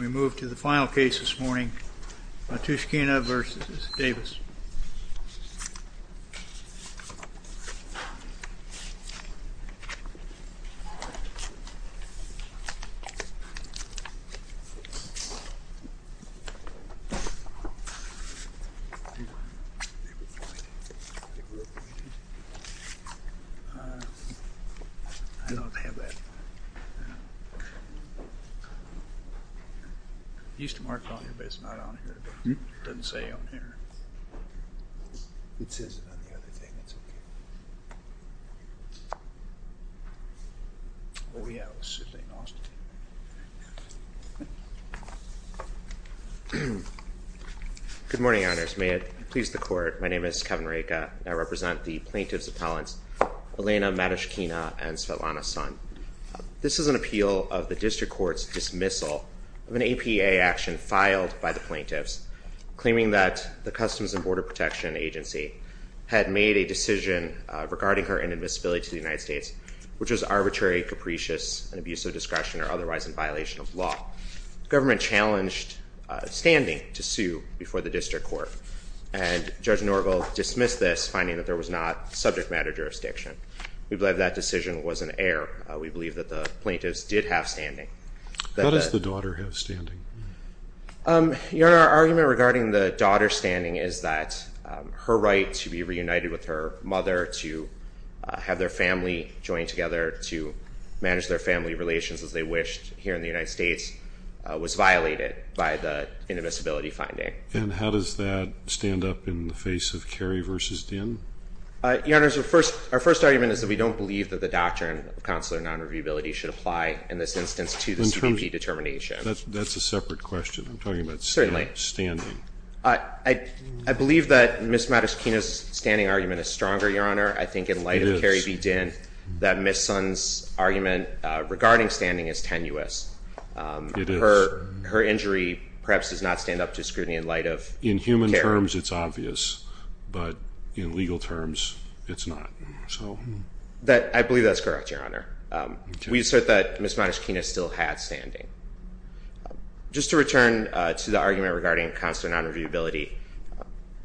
We move to the final case this morning, Matushkina v. Davies. He used to mark it on here, but it's not on here. It doesn't say on here. It says it on the other thing. It's okay. Oh, yeah, it was sitting in Austin. Good morning, Your Honors. May it please the Court, my name is Kevin Raka. I represent the plaintiff's appellants Elena Matushkina and Svetlana Son. This is an appeal of the District Court's dismissal of an APA action filed by the plaintiffs claiming that the Customs and Border Protection Agency had made a decision regarding her inadmissibility to the United States, which was arbitrary, capricious, and abuse of discretion or otherwise in violation of law. The government challenged standing to sue before the District Court, and Judge Norville dismissed this, finding that there was not subject matter jurisdiction. We believe that decision was an error. We believe that the plaintiffs did have standing. How does the daughter have standing? Your Honor, our argument regarding the daughter's standing is that her right to be reunited with her mother, to have their family join together, to manage their family relations as they wished here in the United States, was violated by the inadmissibility finding. And how does that stand up in the face of Kerry v. Dinn? Your Honor, our first argument is that we don't believe that the doctrine of consular nonreviewability should apply in this instance to the CBP determination. That's a separate question. Certainly. I'm talking about standing. I believe that Ms. Matushkina's standing argument is stronger, Your Honor. It is. I think in light of Kerry v. Dinn that Ms. Son's argument regarding standing is tenuous. Her injury perhaps does not stand up to scrutiny in light of Kerry v. Dinn. In human terms it's obvious, but in legal terms it's not. I believe that's correct, Your Honor. We assert that Ms. Matushkina still had standing. Just to return to the argument regarding consular nonreviewability,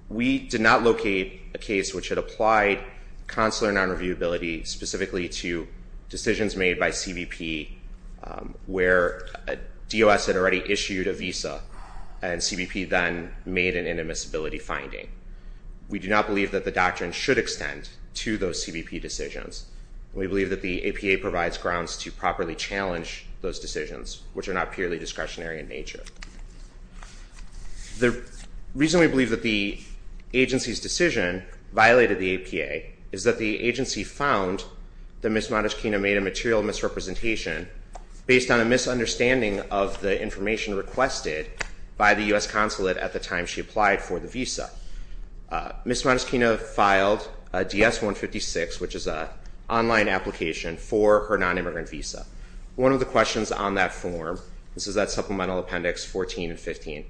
we did not locate a case which had applied consular nonreviewability specifically to decisions made by CBP where DOS had already issued a visa and CBP then made an inadmissibility finding. We do not believe that the doctrine should extend to those CBP decisions. We believe that the APA provides grounds to properly challenge those decisions, which are not purely discretionary in nature. The reason we believe that the agency's decision violated the APA is that the agency found that Ms. Matushkina made a material misrepresentation based on a misunderstanding of the information requested by the U.S. consulate at the time she applied for the visa. Ms. Matushkina filed a DS-156, which is an online application for her nonimmigrant visa. One of the questions on that form, this is that supplemental appendix 14 and 15,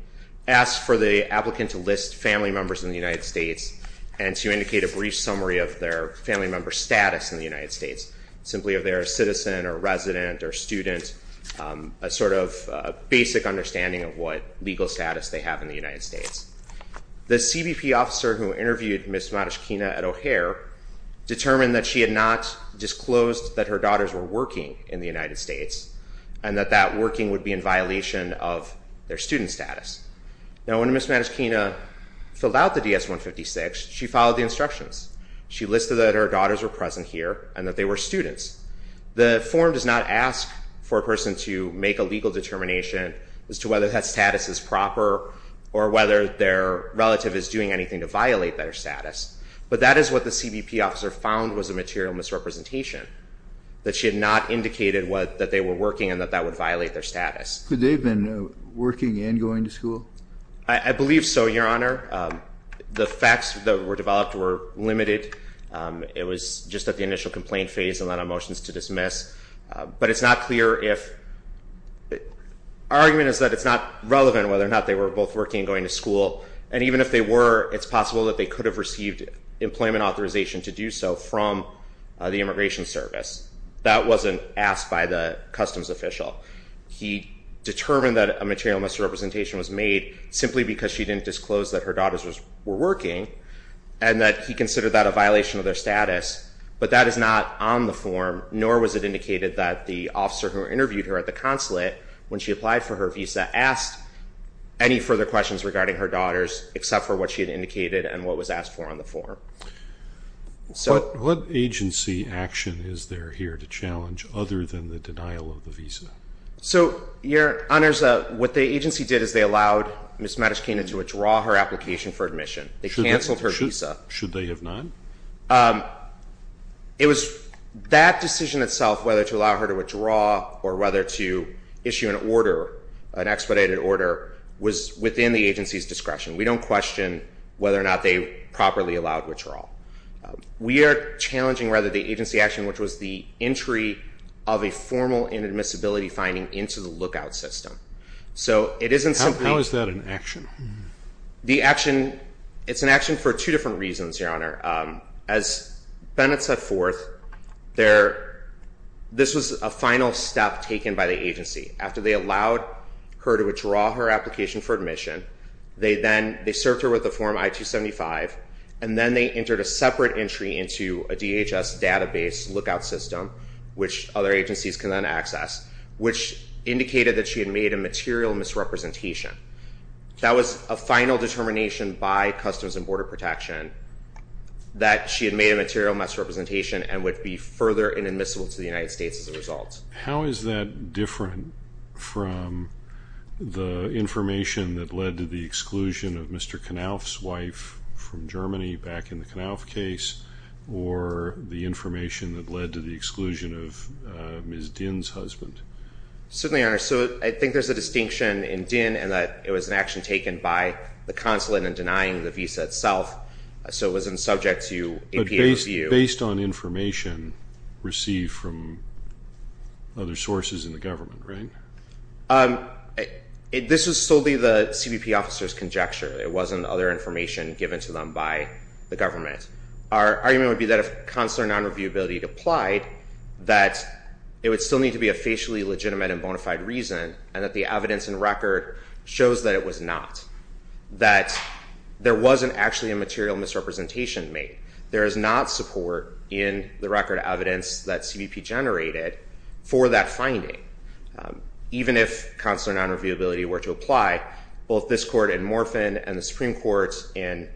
asked for the applicant to list family members in the United States and to indicate a brief summary of their family member status in the United States, simply if they're a citizen or resident or student, a sort of basic understanding of what legal status they have in the United States. The CBP officer who interviewed Ms. Matushkina at O'Hare determined that she had not disclosed that her daughters were working in the United States and that that working would be in violation of their student status. Now when Ms. Matushkina filled out the DS-156, she followed the instructions. She listed that her daughters were present here and that they were students. The form does not ask for a person to make a legal determination as to whether that status is proper or whether their relative is doing anything to violate their status, but that is what the CBP officer found was a material misrepresentation, that she had not indicated that they were working and that that would violate their status. Could they have been working and going to school? I believe so, Your Honor. The facts that were developed were limited. It was just at the initial complaint phase and then a motion to dismiss. But it's not clear if... Our argument is that it's not relevant whether or not they were both working and going to school. And even if they were, it's possible that they could have received employment authorization to do so from the Immigration Service. That wasn't asked by the customs official. He determined that a material misrepresentation was made simply because she didn't disclose that her daughters were working and that he considered that a violation of their status. But that is not on the form, nor was it indicated that the officer who interviewed her at the consulate when she applied for her visa asked any further questions regarding her daughters except for what she had indicated and what was asked for on the form. What agency action is there here to challenge other than the denial of the visa? So, Your Honors, what the agency did is they allowed Ms. Matushkina to withdraw her application for admission. They canceled her visa. Should they have not? It was that decision itself, whether to allow her to withdraw or whether to issue an order, an expedited order, was within the agency's discretion. We don't question whether or not they properly allowed withdrawal. We are challenging, rather, the agency action, which was the entry of a formal inadmissibility finding into the lookout system. How is that an action? It's an action for two different reasons, Your Honor. As Bennett set forth, this was a final step taken by the agency. After they allowed her to withdraw her application for admission, they served her with the form I-275, and then they entered a separate entry into a DHS database lookout system, which other agencies can then access, which indicated that she had made a material misrepresentation. That was a final determination by Customs and Border Protection that she had made a material misrepresentation and would be further inadmissible to the United States as a result. How is that different from the information that led to the exclusion of Mr. Knauf's wife from Germany, back in the Knauf case, or the information that led to the exclusion of Ms. Dinh's husband? Certainly, Your Honor. I think there's a distinction in Dinh in that it was an action taken by the consulate in denying the visa itself, so it wasn't subject to APA review. It was based on information received from other sources in the government, right? This was solely the CBP officer's conjecture. It wasn't other information given to them by the government. Our argument would be that if consular non-reviewability applied, that it would still need to be a facially legitimate and bona fide reason, and that the evidence and record shows that it was not, that there wasn't actually a material misrepresentation made. There is not support in the record of evidence that CBP generated for that finding. Even if consular non-reviewability were to apply, both this court in Morphin and the Supreme Court in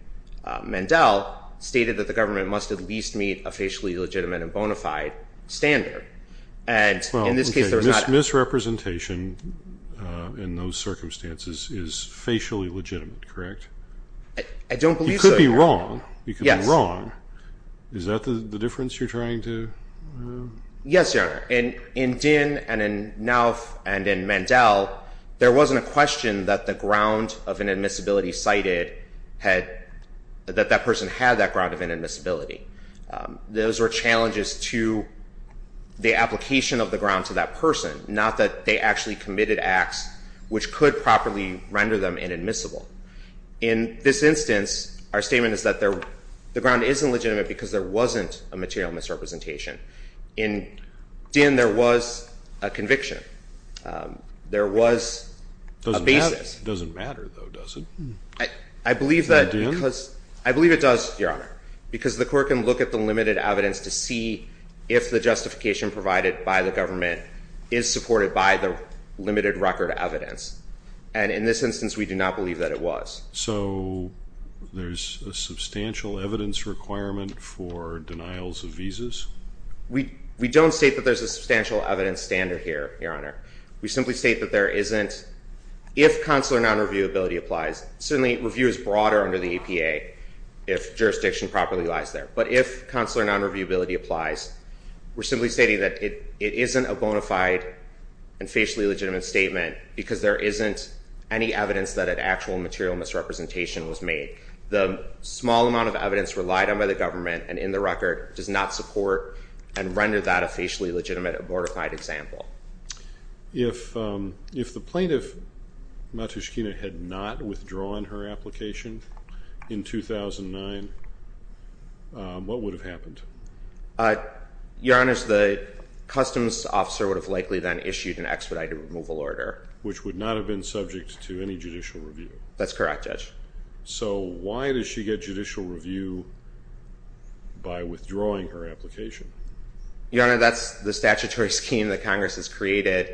Mandel stated that the government must at least meet a facially legitimate and bona fide standard. And in this case there was not... Well, okay, misrepresentation in those circumstances is facially legitimate, correct? I don't believe so, Your Honor. You could be wrong. Yes. Is that the difference you're trying to... Yes, Your Honor. In Dinh and in Nauf and in Mandel, there wasn't a question that the ground of inadmissibility cited had, that that person had that ground of inadmissibility. Those were challenges to the application of the ground to that person, not that they actually committed acts which could properly render them inadmissible. In this instance, our statement is that the ground isn't legitimate because there wasn't a material misrepresentation. In Dinh there was a conviction. There was a basis. It doesn't matter, though, does it? I believe that because... Is that Dinh? I believe it does, Your Honor, because the court can look at the limited evidence to see if the justification provided by the government is supported by the limited record evidence. And in this instance, we do not believe that it was. So there's a substantial evidence requirement for denials of visas? We don't state that there's a substantial evidence standard here, Your Honor. We simply state that there isn't. If consular nonreviewability applies, certainly review is broader under the APA if jurisdiction properly lies there. But if consular nonreviewability applies, we're simply stating that it isn't a bona fide and facially legitimate statement because there isn't any evidence that an actual material misrepresentation was made. The small amount of evidence relied on by the government, and in the record, does not support and render that a facially legitimate, abortified example. If the plaintiff, Matushkina, had not withdrawn her application in 2009, what would have happened? Your Honor, the customs officer would have likely then issued an expedited removal order. Which would not have been subject to any judicial review? That's correct, Judge. So why does she get judicial review by withdrawing her application? Your Honor, that's the statutory scheme that Congress has created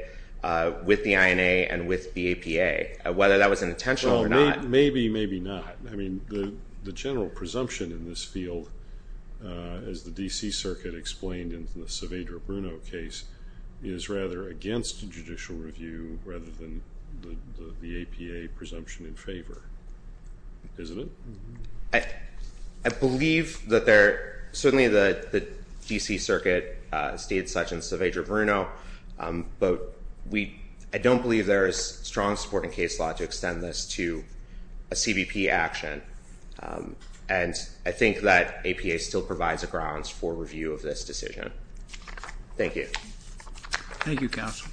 with the INA and with the APA. Whether that was intentional or not. Well, maybe, maybe not. I mean, the general presumption in this field, as the D.C. Circuit explained in the Saavedra-Bruno case, is rather against a judicial review rather than the APA presumption in favor. Isn't it? I believe that there, certainly the D.C. Circuit stated such in Saavedra-Bruno, but I don't believe there is strong support in case law to extend this to a CBP action. And I think that APA still provides a grounds for review of this decision. Thank you. Thank you, counsel.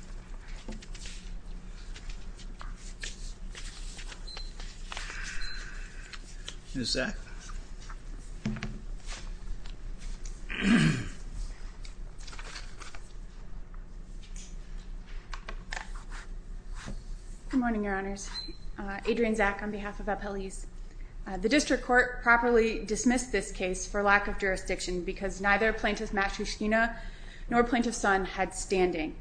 Ms. Zack. Good morning, Your Honors. Adrienne Zack on behalf of Appellees. The District Court properly dismissed this case for lack of jurisdiction because neither Plaintiff Matushkina nor Plaintiff Sun had standing.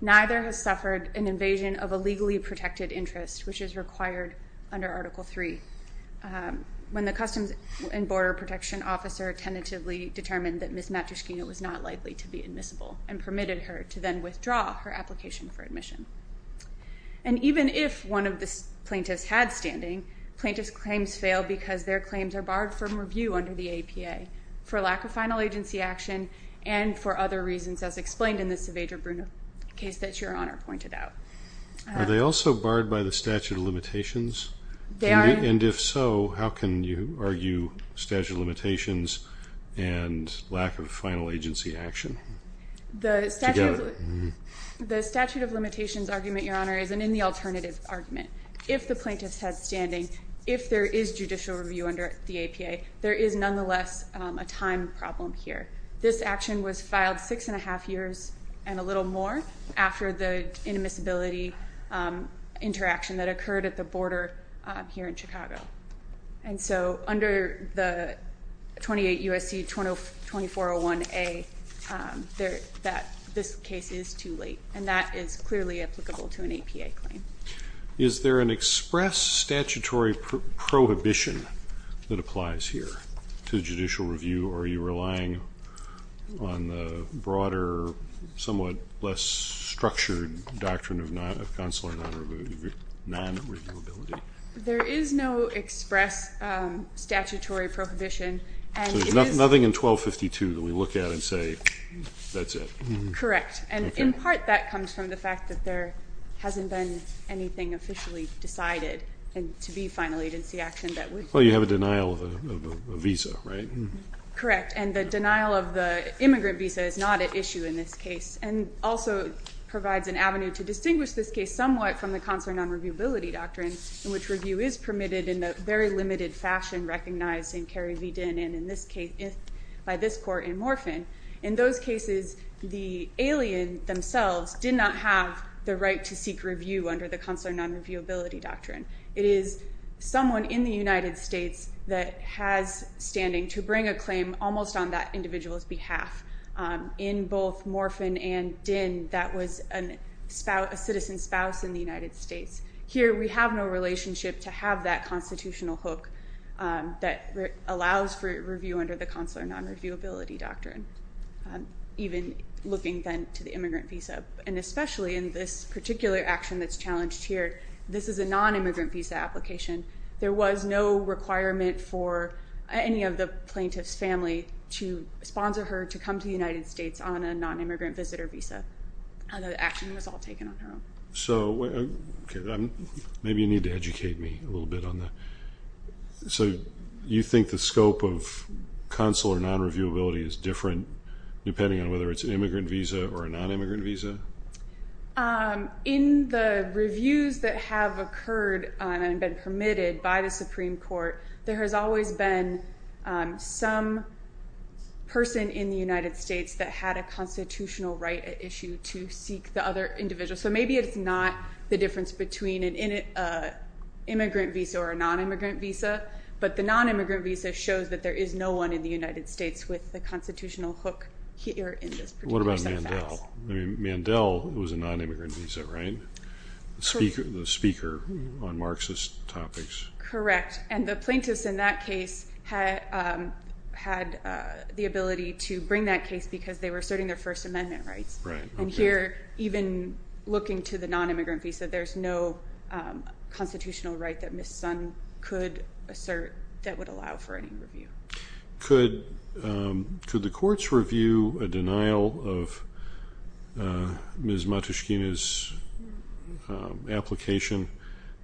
Neither has suffered an invasion of a legally protected interest, which is required under Article III. When the Customs and Border Protection officer tentatively determined that Ms. Matushkina was not likely to be admissible and permitted her to then withdraw her application for admission. And even if one of the plaintiffs had standing, plaintiffs' claims fail because their claims are barred from review under the APA for lack of final agency action and for other reasons as explained in the Saavedra-Bruno case that Your Honor pointed out. Are they also barred by the statute of limitations? They are. And if so, how can you argue statute of limitations and lack of final agency action together? The statute of limitations argument, Your Honor, is an in the alternative argument. If the plaintiffs had standing, if there is judicial review under the APA, there is nonetheless a time problem here. This action was filed six and a half years and a little more after the inadmissibility interaction that occurred at the border here in Chicago. And so under the 28 U.S.C. 2401A, this case is too late, and that is clearly applicable to an APA claim. Is there an express statutory prohibition that applies here to judicial review, or are you relying on the broader, somewhat less structured doctrine of consular non-reviewability? There is no express statutory prohibition. So there's nothing in 1252 that we look at and say, that's it. Correct. And in part, that comes from the fact that there hasn't been anything officially decided to be final agency action that we've seen. Well, you have a denial of a visa, right? Correct. And the denial of the immigrant visa is not at issue in this case and also provides an avenue to distinguish this case somewhat from the consular non-reviewability doctrine in which review is permitted in a very limited fashion, recognized in Kerry v. Dinn and in this case by this court in Morphin. In those cases, the alien themselves did not have the right to seek review under the consular non-reviewability doctrine. It is someone in the United States that has standing to bring a claim almost on that individual's behalf. In both Morphin and Dinn, that was a citizen spouse in the United States. Here we have no relationship to have that constitutional hook that allows for review under the consular non-reviewability doctrine, even looking then to the immigrant visa. And especially in this particular action that's challenged here, this is a non-immigrant visa application. There was no requirement for any of the plaintiff's family to sponsor her to come to the United States on a non-immigrant visitor visa. The action was all taken on her own. So maybe you need to educate me a little bit on that. So you think the scope of consular non-reviewability is different depending on whether it's an immigrant visa or a non-immigrant visa? In the reviews that have occurred and been permitted by the Supreme Court, there has always been some person in the United States that had a constitutional right at issue to seek the other individual. So maybe it's not the difference between an immigrant visa or a non-immigrant visa, but the non-immigrant visa shows that there is no one in the United States with the constitutional hook here in this particular set of facts. What about Mandel? Mandel was a non-immigrant visa, right? The speaker on Marxist topics. Correct. And the plaintiffs in that case had the ability to bring that case because they were asserting their First Amendment rights. Right. And here, even looking to the non-immigrant visa, there's no constitutional right that Ms. Sun could assert that would allow for any review. Could the courts review a denial of Ms. Matushkina's application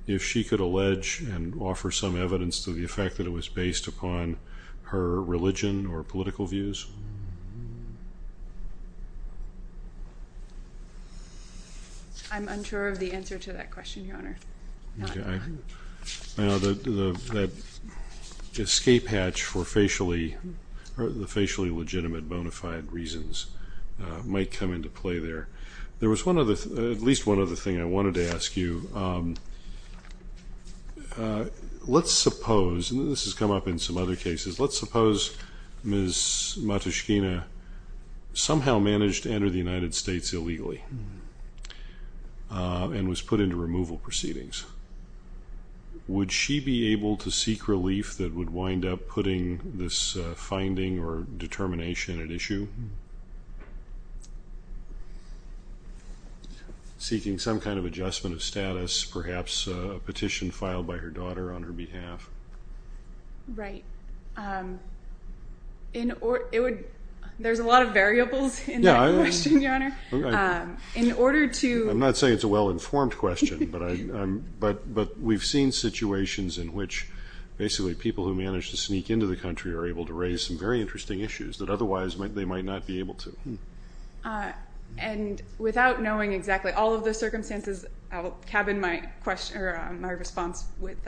if she could allege and offer some evidence to the effect that it was based upon her religion or political views? I'm unsure of the answer to that question, Your Honor. Okay. The escape hatch for the facially legitimate bona fide reasons might come into play there. There was at least one other thing I wanted to ask you. Let's suppose, and this has come up in some other cases, let's suppose Ms. Matushkina somehow managed to enter the United States illegally and was put into removal proceedings. Would she be able to seek relief that would wind up putting this finding or determination at issue? Seeking some kind of adjustment of status, perhaps a petition filed by her daughter on her behalf? Right. There's a lot of variables in that question, Your Honor. I'm not saying it's a well-informed question, but we've seen situations in which basically people who manage to sneak into the country are able to raise some very interesting issues that otherwise they might not be able to. And without knowing exactly all of the circumstances, I'll cabin my response with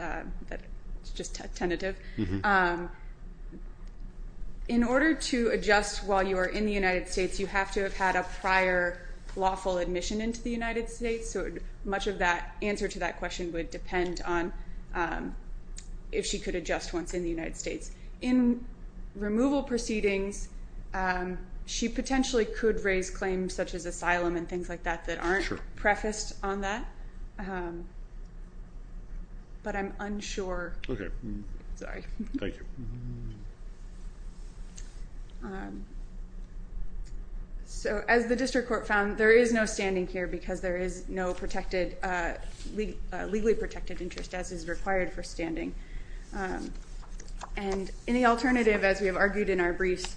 just a tentative. In order to adjust while you are in the United States, you have to have had a prior lawful admission into the United States, so much of the answer to that question would depend on if she could adjust once in the United States. In removal proceedings, she potentially could raise claims such as asylum and things like that that aren't prefaced on that, but I'm unsure. Okay. Sorry. Thank you. So as the district court found, there is no standing here because there is no legally protected interest as is required for standing. And in the alternative, as we have argued in our briefs,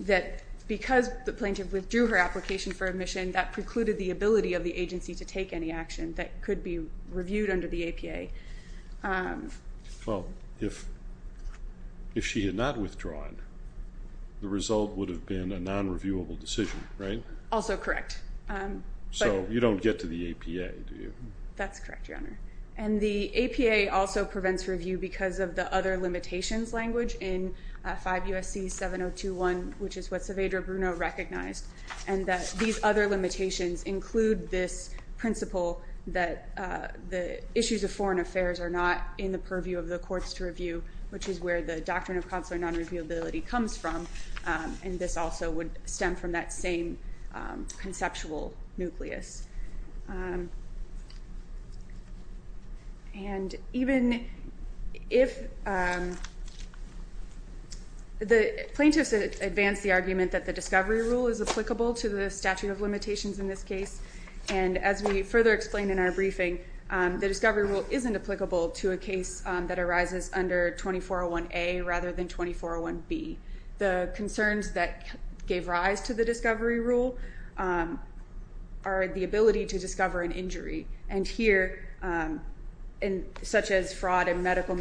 that because the plaintiff withdrew her application for admission, that precluded the ability of the agency to take any action that could be reviewed under the APA. Well, if she had not withdrawn, the result would have been a non-reviewable decision, right? Also correct. So you don't get to the APA, do you? That's correct, Your Honor. And the APA also prevents review because of the other limitations language in 5 U.S.C. 7021, which is what Saavedra Bruno recognized, and that these other limitations include this principle that the issues of foreign affairs are not in the purview of the courts to review, which is where the doctrine of consular non-reviewability comes from, and this also would stem from that same conceptual nucleus. And even if the plaintiffs advance the argument that the discovery rule is applicable to the statute of limitations in this case, and as we further explain in our briefing, the discovery rule isn't applicable to a case that arises under 2401A rather than 2401B. The concerns that gave rise to the discovery rule are the ability to discover an injury, and here, such as fraud and medical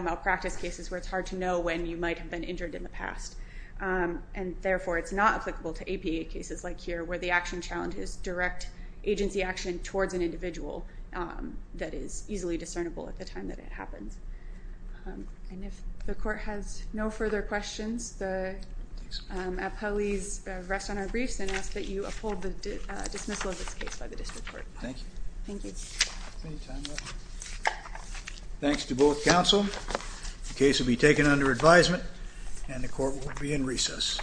malpractice cases where it's hard to know when you might have been injured in the past, and therefore it's not applicable to APA cases like here where the action challenge is direct agency action towards an individual that is easily discernible at the time that it happens. And if the court has no further questions, the appellees rest on our briefs and ask that you uphold the dismissal of this case by the district court. Thank you. Thank you. Thanks to both counsel. The case will be taken under advisement, and the court will be in recess.